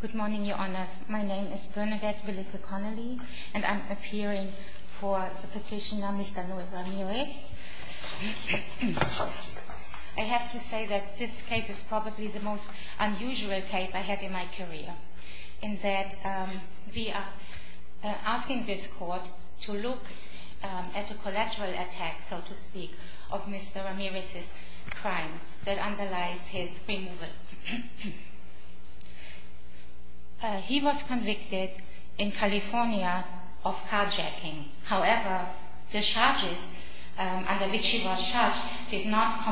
Good morning, Your Honors. My name is Bernadette Belica Connelly, and I'm appearing for the petitioner Mr. Noe Ramirez. I have to say that this case is probably the most unusual case I had in my career, in that we are asking this court to look at a collateral attack, so to speak, of Mr. Ramirez's crime that underlies his removal. He was convicted in California of carjacking. However, the charges under which he was charged did not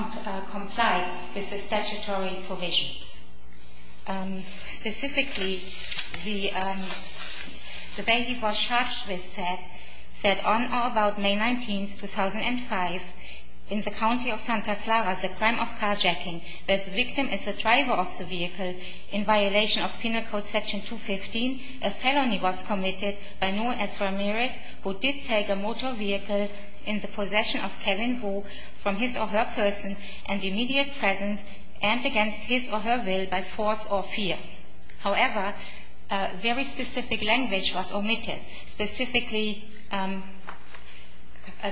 comply with the statutory provisions. Specifically, the way he was charged with said that on or about May 19, 2005, in the county of Santa Clara, the crime of carjacking, where the victim is the driver of the vehicle, in violation of Penal Code Section 215, a felony was committed by Noe S. Ramirez, who did take a motor vehicle in the possession of Kevin Wu from his or her person and immediate presence and against his or her will by force or fear. However, a very specific language was omitted. Specifically,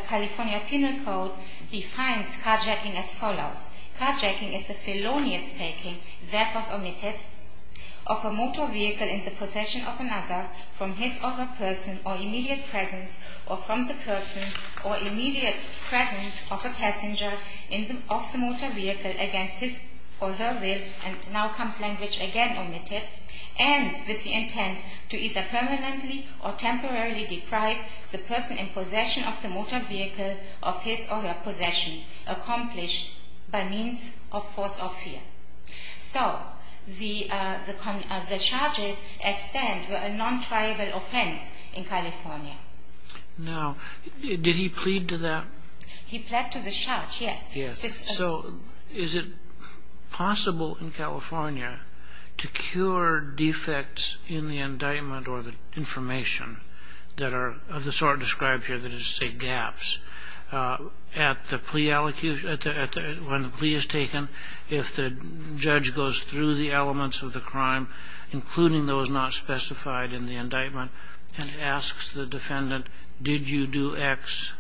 California Penal Code defines carjacking as follows. Carjacking is a felonious taking that was omitted of a motor vehicle in the possession of another from his or her person or immediate presence or from the person or immediate presence of a passenger of the motor vehicle against his or her will. And now comes language again omitted, and with the intent to either permanently or temporarily deprive the person in possession of the motor vehicle of his or her possession, accomplished by means of force or fear. So, the charges at stand were a non-triable offense in California. Now, did he plead to that? He pled to the charge, yes. So, is it possible in California to cure defects in the indictment or the information that are of the sort described here that is, say, gaps? At the plea, when the plea is taken, if the judge goes through the elements of the crime, including those not specified in the indictment and asks the defendant, did you do X,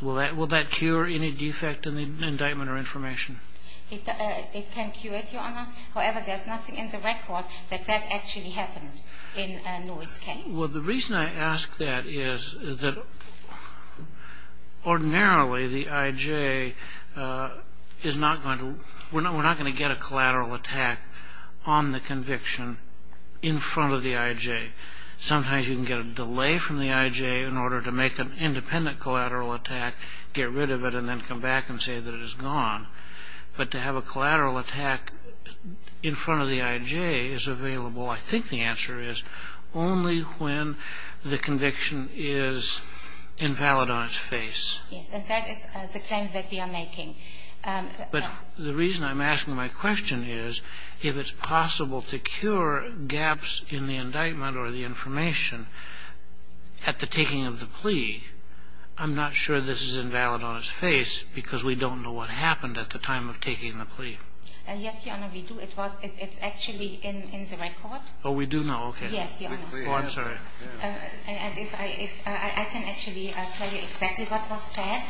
will that cure any defect in the indictment or information? It can cure it, Your Honor. However, there's nothing in the record that that actually happened in Lewis's case. Well, the reason I ask that is that ordinarily the I.J. is not going to, we're not going to get a collateral attack on the conviction in front of the I.J. Sometimes you can get a delay from the I.J. in order to make an independent collateral attack, get rid of it, and then come back and say that it is gone. But to have a collateral attack in front of the I.J. is available, I think the answer is, only when the conviction is invalid on its face. Yes. In fact, it's a claim that we are making. But the reason I'm asking my question is, if it's possible to cure gaps in the indictment or the information at the taking of the plea, I'm not sure this is invalid on its face because we don't know what happened at the time of taking the plea. Yes, Your Honor, we do. It was, it's actually in the record. Oh, we do now. Okay. Yes, Your Honor. Oh, I'm sorry. And if I, I can actually tell you exactly what was said.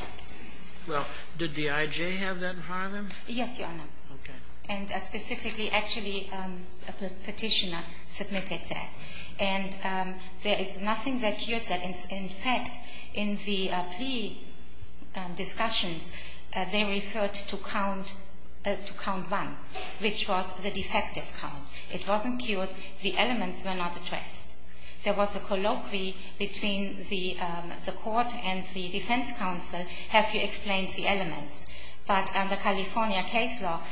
Well, did the I.J. have that in front of him? Yes, Your Honor. Okay. And specifically, actually, a Petitioner submitted that. And there is nothing that cured that. In fact, in the plea discussions, they referred to count, to count one, which was the defective count. It wasn't cured. The elements were not addressed. There was a colloquy between the court and the defense counsel, have you explained the elements. But under California case law,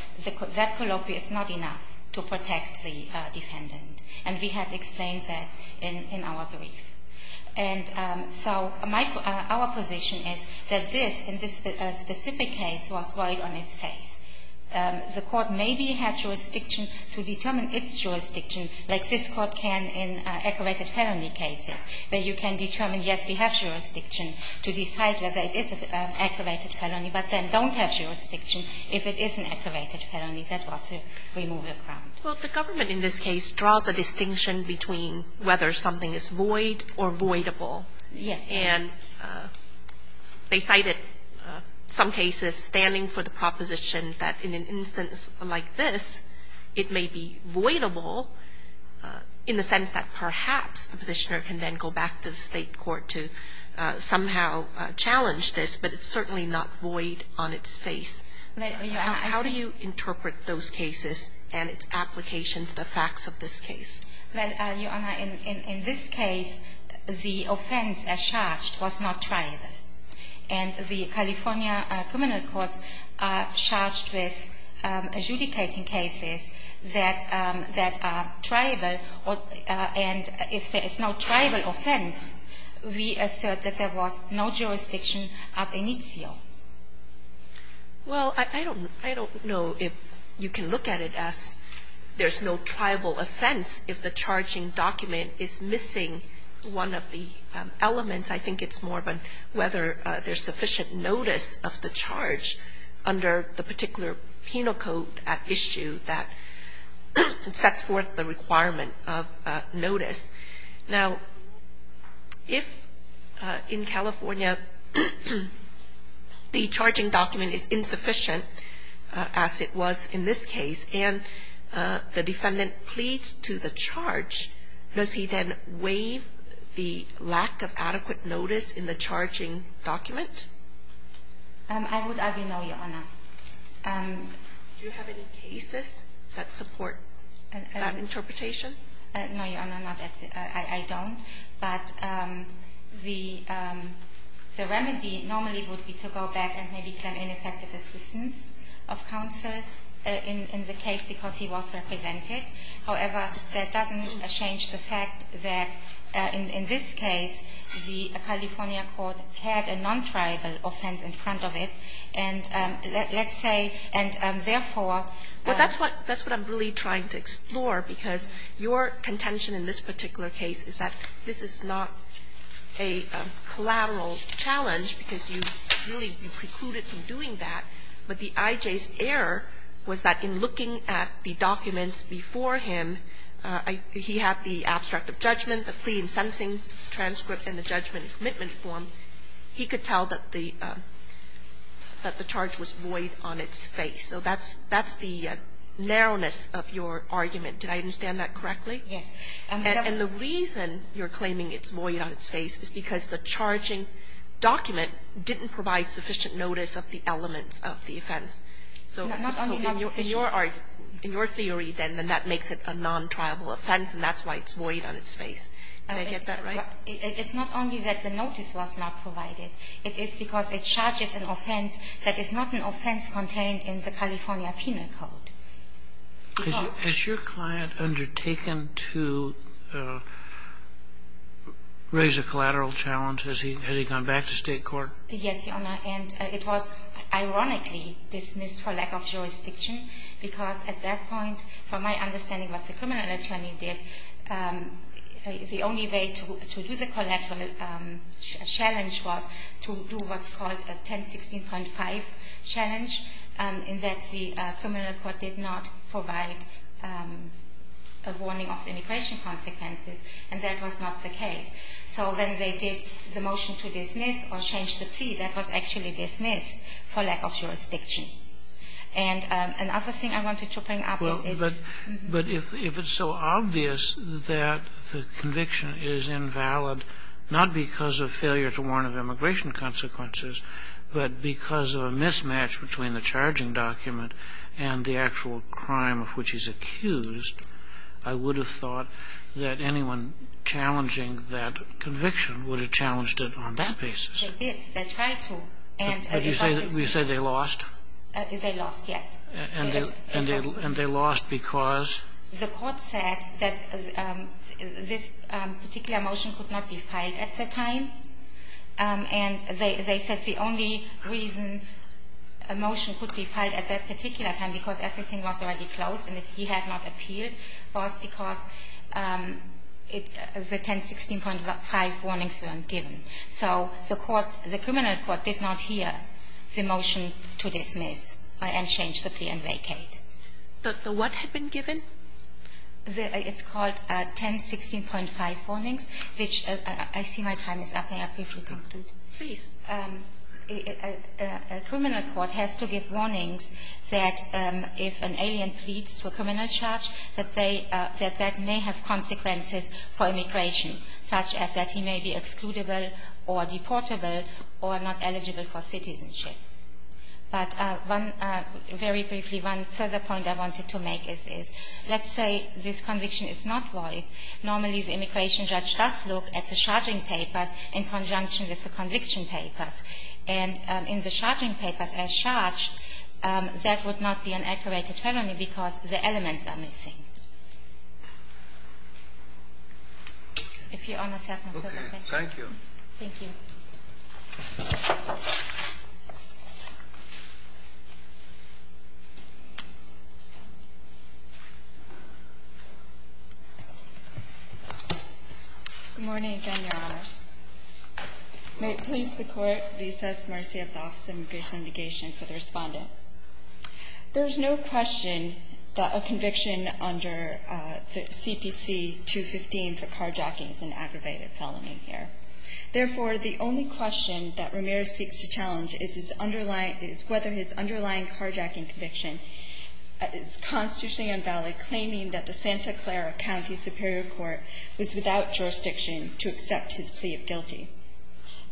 that colloquy is not enough to protect the defendant. And we have explained that in our brief. And so my, our position is that this, in this specific case, was right on its face. The court maybe had jurisdiction to determine its jurisdiction, like this court can in aggravated felony cases, where you can determine, yes, we have jurisdiction to decide whether it is an aggravated felony, but then don't have jurisdiction if it is an aggravated felony. That was a removal ground. Well, the government in this case draws a distinction between whether something is void or voidable. Yes. And they cited some cases standing for the proposition that in an instance like this, it may be voidable in the sense that perhaps the Petitioner can then go back to the State Court to somehow challenge this, but it's certainly not void on its face. How do you interpret those cases and its application to the facts of this case? Well, Your Honor, in this case, the offense as charged was not tribal. And the California criminal courts are charged with adjudicating cases that, that are tribal, and if there is no tribal offense, we assert that there was no jurisdiction ab initio. Well, I don't, I don't know if you can look at it as there's no tribal offense if the charging document is missing one of the elements. I think it's more of a whether there's sufficient notice of the charge under the particular penal code at issue that sets forth the requirement of notice. Now, if in California the charging document is insufficient, as it was in this case, and the defendant pleads to the charge, does he then waive the lack of adequate notice in the charging document? I would argue no, Your Honor. Do you have any cases that support that interpretation? No, Your Honor, not at this. I don't. But the remedy normally would be to go back and maybe claim ineffective assistance of counsel in the case because he was represented. However, that doesn't change the fact that in this case the California court had a non-tribal offense in front of it. And let's say, and therefore that's what, that's what I'm really trying to explore, because your contention in this particular case is that this is not a collateral challenge because you really precluded from doing that, but the I.J.'s error was that in looking at the documents before him, he had the abstract of judgment, the plea in sentencing transcript, and the judgment in commitment form, he could tell that the charge was void on its face. So that's the narrowness of your argument. Did I understand that correctly? Yes. And the reason you're claiming it's void on its face is because the charging document didn't provide sufficient notice of the elements of the offense. So in your argument, in your theory, then, then that makes it a non-tribal offense, and that's why it's void on its face. Did I get that right? It's not only that the notice was not provided. It is because it charges an offense that is not an offense contained in the California penal code. Has your client undertaken to raise a collateral challenge? Has he gone back to state court? Yes, Your Honor. And it was ironically dismissed for lack of jurisdiction because at that point, from my understanding of what the criminal attorney did, the only way to do the collateral challenge was to do what's called a 1016.5 challenge, in that the criminal court did not provide a warning of immigration consequences, and that was not the case. So when they did the motion to dismiss or change the plea, that was actually dismissed for lack of jurisdiction. And another thing I wanted to bring up is the But if it's so obvious that the conviction is invalid, not because of failure to warn of immigration consequences, but because of a mismatch between the charging document and the actual crime of which he's accused, I would have thought that anyone challenging that conviction would have challenged it on that basis. They did. They tried to. And the process is the same. But you say they lost? They lost, yes. And they lost because? The court said that this particular motion could not be filed at the time. And they said the only reason a motion could be filed at that particular time, because everything was already closed and he had not appealed, was because the 1016.5 warnings weren't given. So the court, the criminal court did not hear the motion to dismiss and change the plea and vacate. But the what had been given? It's called 1016.5 warnings, which I see my time is up. May I briefly talk to it? Please. A criminal court has to give warnings that if an alien pleads for criminal charge, that they – that that may have consequences for immigration, such as that he may be excludable or deportable or not eligible for citizenship. But one – very briefly, one further point I wanted to make is, is let's say this conviction is not void. Normally, the immigration judge does look at the charging papers in conjunction with the conviction papers. And in the charging papers as charged, that would not be an accurate attorney because the elements are missing. If Your Honor has no further questions. Thank you. Thank you. Good morning again, Your Honors. May it please the Court, we assess mercy of the Office of Immigration and Negation for the respondent. There is no question that a conviction under CPC 215 for carjacking is an aggravated felony here. Therefore, the only question that Ramirez seeks to challenge is his underlying – is whether his underlying carjacking conviction is constitutionally invalid, claiming that the Santa Clara County Superior Court was without jurisdiction to accept his plea of guilty.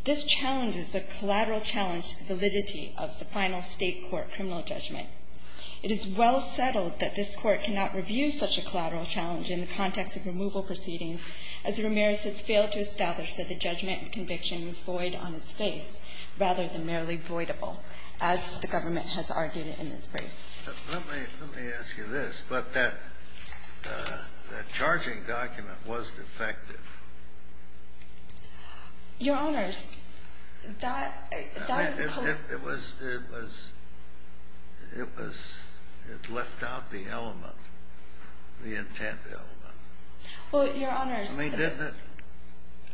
This challenge is a collateral challenge to the validity of the final State court criminal judgment. It is well settled that this Court cannot review such a collateral challenge in the case, but it has failed to establish that the judgment and conviction was void on its face, rather than merely voidable, as the government has argued in this brief. Let me ask you this. But that charging document was defective. Your Honors, that is a collusion. It was – it was – it was – it left out the element, the intent element. Well, Your Honors, I mean, didn't it?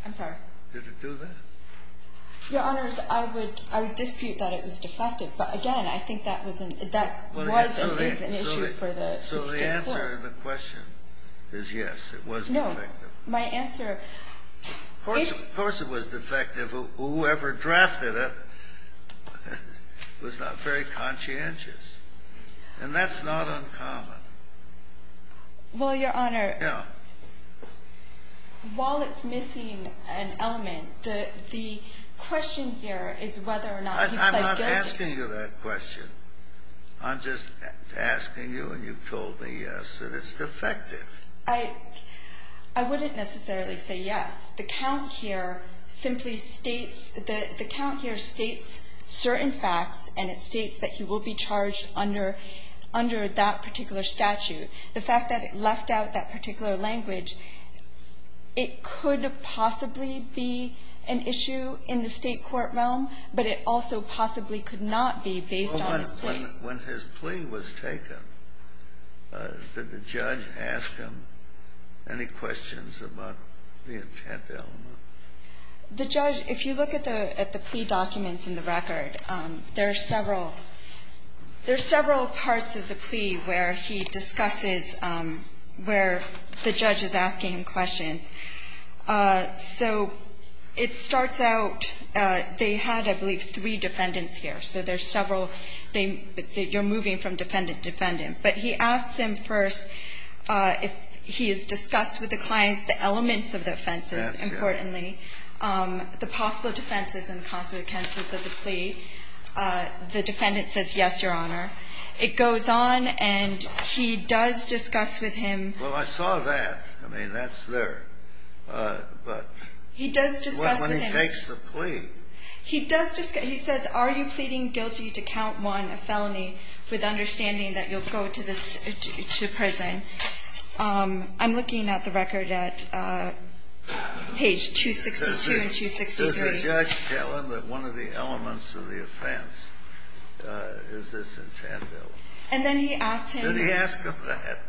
I'm sorry. Did it do that? Your Honors, I would – I would dispute that it was defective. But again, I think that was an – that was and is an issue for the State court. So the answer to the question is yes, it was defective. No, my answer – Of course it was defective. Whoever drafted it was not very conscientious. And that's not uncommon. Well, Your Honor, while it's missing an element, the – the question here is whether or not he pled guilty. I'm not asking you that question. I'm just asking you, and you've told me yes, that it's defective. I – I wouldn't necessarily say yes. The count here simply states – the count here states certain facts, and it states that he will be charged under – under that particular statute. The fact that it left out that particular language, it could possibly be an issue in the State court realm, but it also possibly could not be based on his plea. When his plea was taken, did the judge ask him any questions about the intent element? The judge – if you look at the – at the plea documents in the record, there are several – there are several parts of the plea where he discusses where the judge is asking him questions. So it starts out – they had, I believe, three defendants here. So there's several. They – you're moving from defendant to defendant. But he asks them first if he has discussed with the clients the elements of the offenses importantly, the possible defenses and consequences of the plea. The defendant says yes, Your Honor. It goes on, and he does discuss with him – Well, I saw that. I mean, that's there. But – He does discuss with him – When he takes the plea. He does – he says, are you pleading guilty to count 1, a felony, with understanding that you'll go to this – to prison? I'm looking at the record at page 262 and 263. Does the judge tell him that one of the elements of the offense is this intent bill? And then he asks him – Did he ask him that?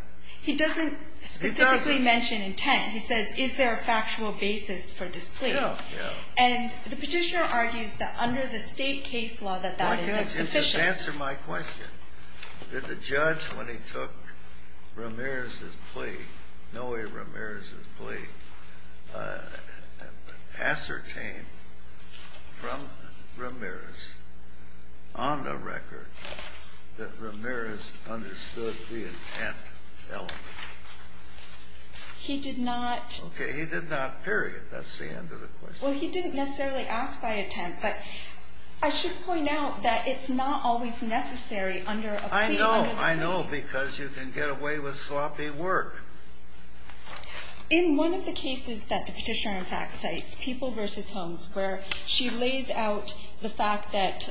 He doesn't specifically mention intent. He says, is there a factual basis for this plea? Yeah, yeah. And the Petitioner argues that under the State case law that that is insufficient. Why can't you just answer my question? Did the judge, when he took Ramirez's plea, Noe Ramirez's plea, ascertain from Ramirez on the record that Ramirez understood the intent element? He did not – Okay. He did not, period. That's the end of the question. Well, he didn't necessarily ask by intent. But I should point out that it's not always necessary under a plea under the State. I know. I know, because you can get away with sloppy work. In one of the cases that the Petitioner, in fact, cites, People v. Holmes, where she lays out the fact that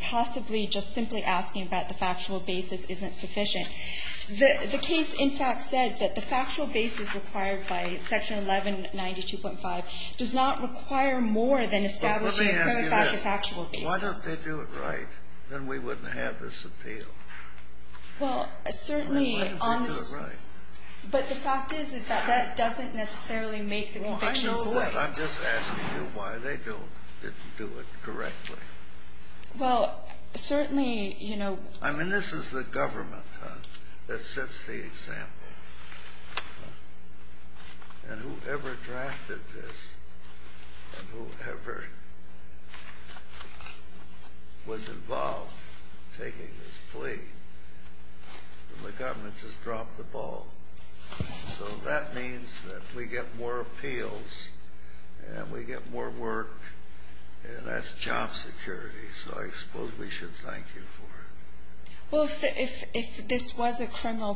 possibly just simply asking about the factual basis isn't sufficient, the case, in fact, says that the factual basis required by Section 1192.5 does not require more than establishing a clarified factual basis. Let me ask you this. Why don't they do it right? Then we wouldn't have this appeal. Well, certainly. Why don't they do it right? But the fact is, is that that doesn't necessarily make the conviction void. Well, I know that. I'm just asking you why they don't do it correctly. Well, certainly, you know – I mean, this is the government that sets the example. And whoever drafted this and whoever was involved in taking this plea, the government just dropped the ball. So that means that we get more appeals and we get more work, and that's job security. So I suppose we should thank you for it. Well, if this was a criminal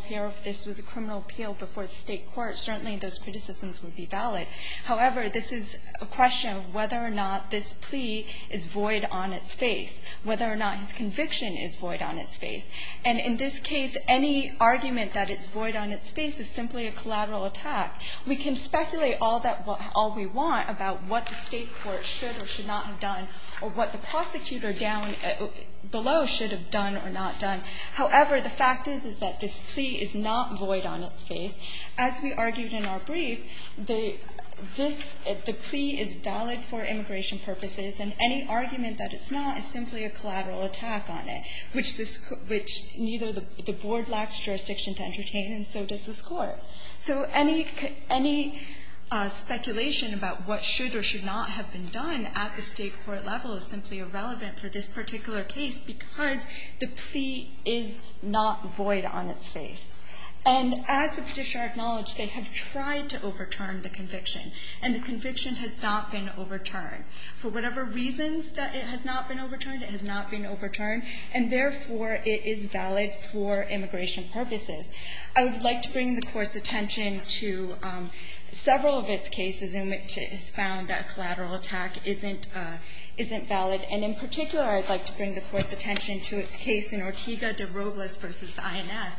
appeal before the State court, certainly those criticisms would be valid. However, this is a question of whether or not this plea is void on its face, whether or not his conviction is void on its face. And in this case, any argument that it's void on its face is simply a collateral attack. We can speculate all we want about what the State court should or should not have done or what the prosecutor down below should have done or not done. However, the fact is, is that this plea is not void on its face. As we argued in our brief, the plea is valid for immigration purposes, and any argument that it's not is simply a collateral attack on it, which neither the board lacks jurisdiction to entertain, and so does this Court. So any speculation about what should or should not have been done at the State court level is simply irrelevant for this particular case, because the plea is not void on its face. And as the Petitioner acknowledged, they have tried to overturn the conviction, and the conviction has not been overturned. For whatever reasons that it has not been overturned, it has not been overturned, and therefore it is valid for immigration purposes. I would like to bring the Court's attention to several of its cases in which it has found that collateral attack isn't valid. And in particular, I'd like to bring the Court's attention to its case in Ortega de Robles v. INS,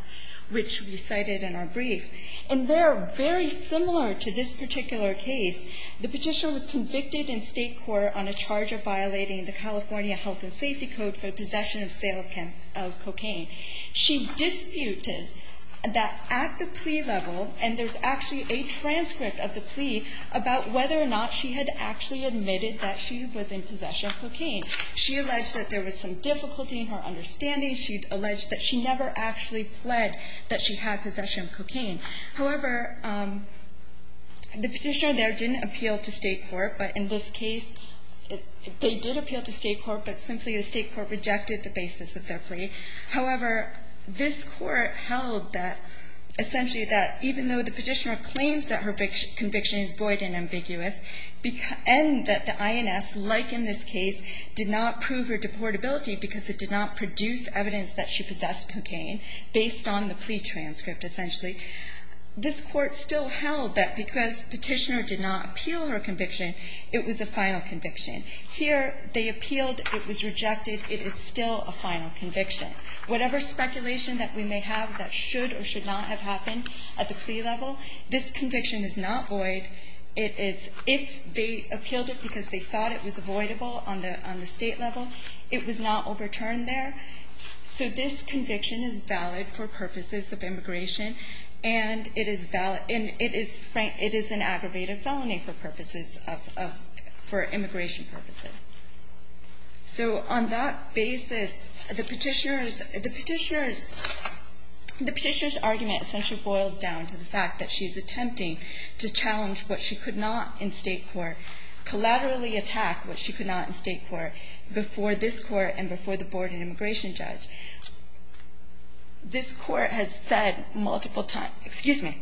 which we cited in our brief. And they're very similar to this particular case. The Petitioner was convicted in State court on a charge of violating the California Health and Safety Code for possession of sale of cocaine. She disputed that at the plea level, and there's actually a transcript of the plea about whether or not she had actually admitted that she was in possession of cocaine. She alleged that there was some difficulty in her understanding. She alleged that she never actually pled that she had possession of cocaine. However, the Petitioner there didn't appeal to State court, but in this case, they did appeal to State court, but simply the State court rejected the basis of their plea. However, this Court held that, essentially, that even though the Petitioner claims that her conviction is void and ambiguous, and that the INS, like in this case, did not prove her deportability because it did not produce evidence that she possessed cocaine based on the plea transcript, essentially, this Court still held that because Petitioner did not appeal her conviction, it was a final conviction. Here, they appealed. It was rejected. It is still a final conviction. Whatever speculation that we may have that should or should not have happened at the plea level, this conviction is not void. It is – if they appealed it because they thought it was avoidable on the State level, it was not overturned there. So this conviction is valid for purposes of immigration, and it is valid – and it is – it is an aggravated felony for purposes of – for immigration purposes. So on that basis, the Petitioner's – the Petitioner's – the Petitioner's argument essentially boils down to the fact that she's attempting to challenge what she could not in State court, collaterally attack what she could not in State court before this Court and before the Board of Immigration judge. This Court has said multiple times – excuse me.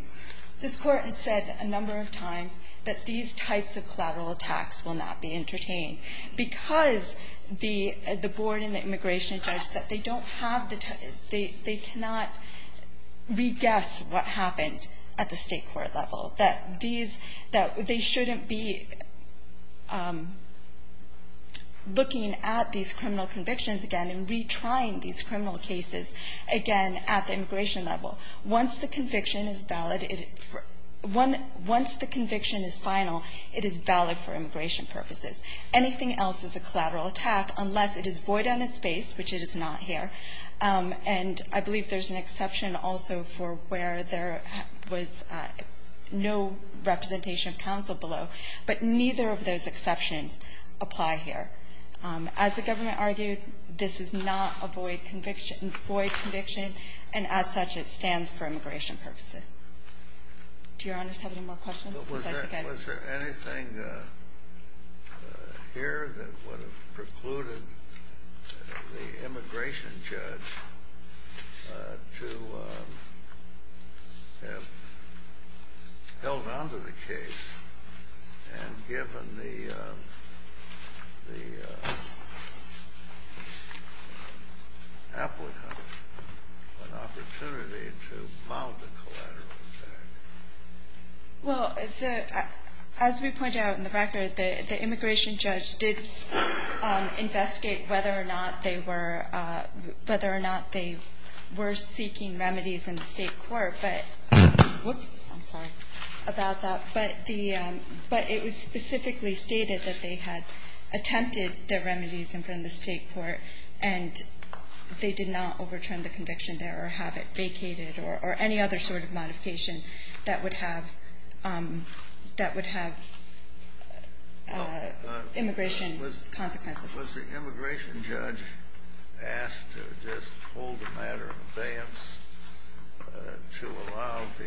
This Court has said a number of times that these types of collateral attacks will not be entertained because the Board and the immigration judge, that they don't have the – they cannot reguess what happened at the State court level, that these – that they shouldn't be looking at these criminal convictions again and retrying these criminal cases again at the immigration level. Once the conviction is valid – once the conviction is final, it is valid for immigration purposes. Anything else is a collateral attack unless it is void on its base, which it is not here. And I believe there's an exception also for where there was no representation of counsel below, but neither of those exceptions apply here. As the government argued, this is not a void conviction, and as such, it stands for immigration purposes. Do Your Honors have any more questions? Was there anything here that would have precluded the immigration judge to have held on to the case and given the applicant an opportunity to mount a collateral attack? Well, as we pointed out in the record, the immigration judge did investigate whether or not they were – whether or not they were seeking remedies in the State court, but – whoops, I'm sorry – about that. But the – but it was specifically stated that they had attempted the remedies in front of the State court, and they did not overturn the conviction there or have it vacated or any other sort of modification that would have – that would have immigration consequences. Was the immigration judge asked to just hold a matter of abeyance to allow the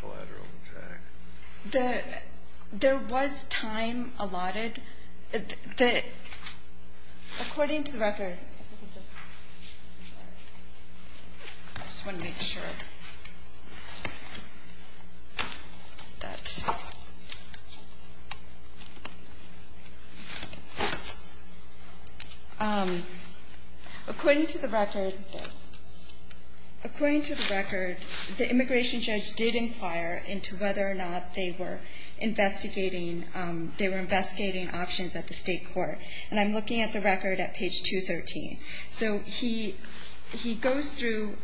collateral attack? The – there was time allotted. The – according to the record – I just want to make sure that – according to the record – according to the record, the immigration judge did inquire into whether or not they were investigating – they were investigating options at the State court. And I'm looking at the record at page 213. So he – he goes through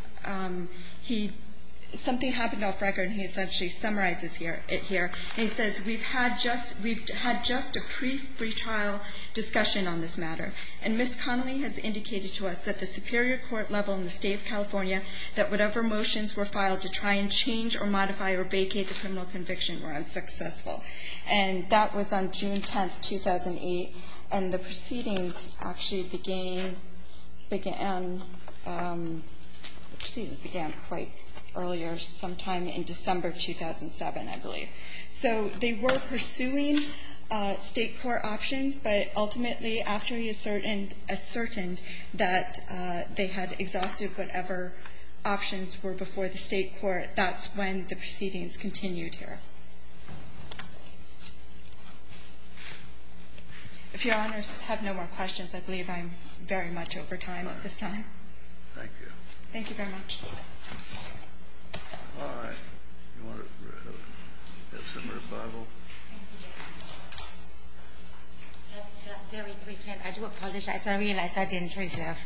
– he – something happened off record, and he essentially summarizes it here. And he says, we've had just – we've had just a pre-trial discussion on this matter. And Ms. Connelly has indicated to us that the superior court level in the State of California, that whatever motions were filed to try and change or modify or vacate the criminal conviction were unsuccessful. And that was on June 10, 2008. And the proceedings actually began – began – the proceedings began quite earlier, sometime in December 2007, I believe. So they were pursuing State court options, but ultimately, after he ascertained that they had exhausted whatever options were before the State court, that's when the proceedings continued here. If Your Honors have no more questions, I believe I'm very much over time at this time. Thank you. Thank you very much. All right. You want to have some rebuttal? Thank you, Your Honor. Just very briefly, and I do apologize. I realize I didn't reserve.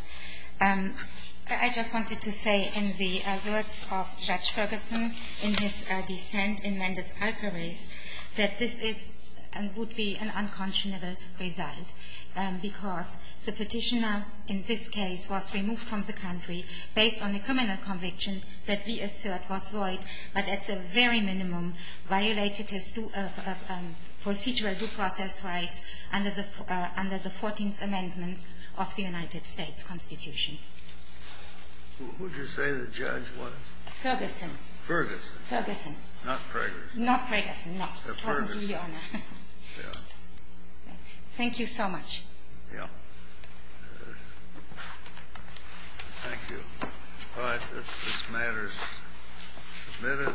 I just wanted to say in the words of Judge Ferguson in his dissent in Mendez-Alcarez that this is and would be an unconscionable result because the Petitioner in this case was removed from the country based on the criminal conviction that we assert was void, but at the very minimum violated his procedural due process rights under the 14th Amendment of the United States Constitution. Who did you say the judge was? Ferguson. Ferguson. Ferguson. Not Ferguson. Not Ferguson, no. It wasn't you, Your Honor. Thank you so much. Yeah. Thank you. All right. This matter is submitted.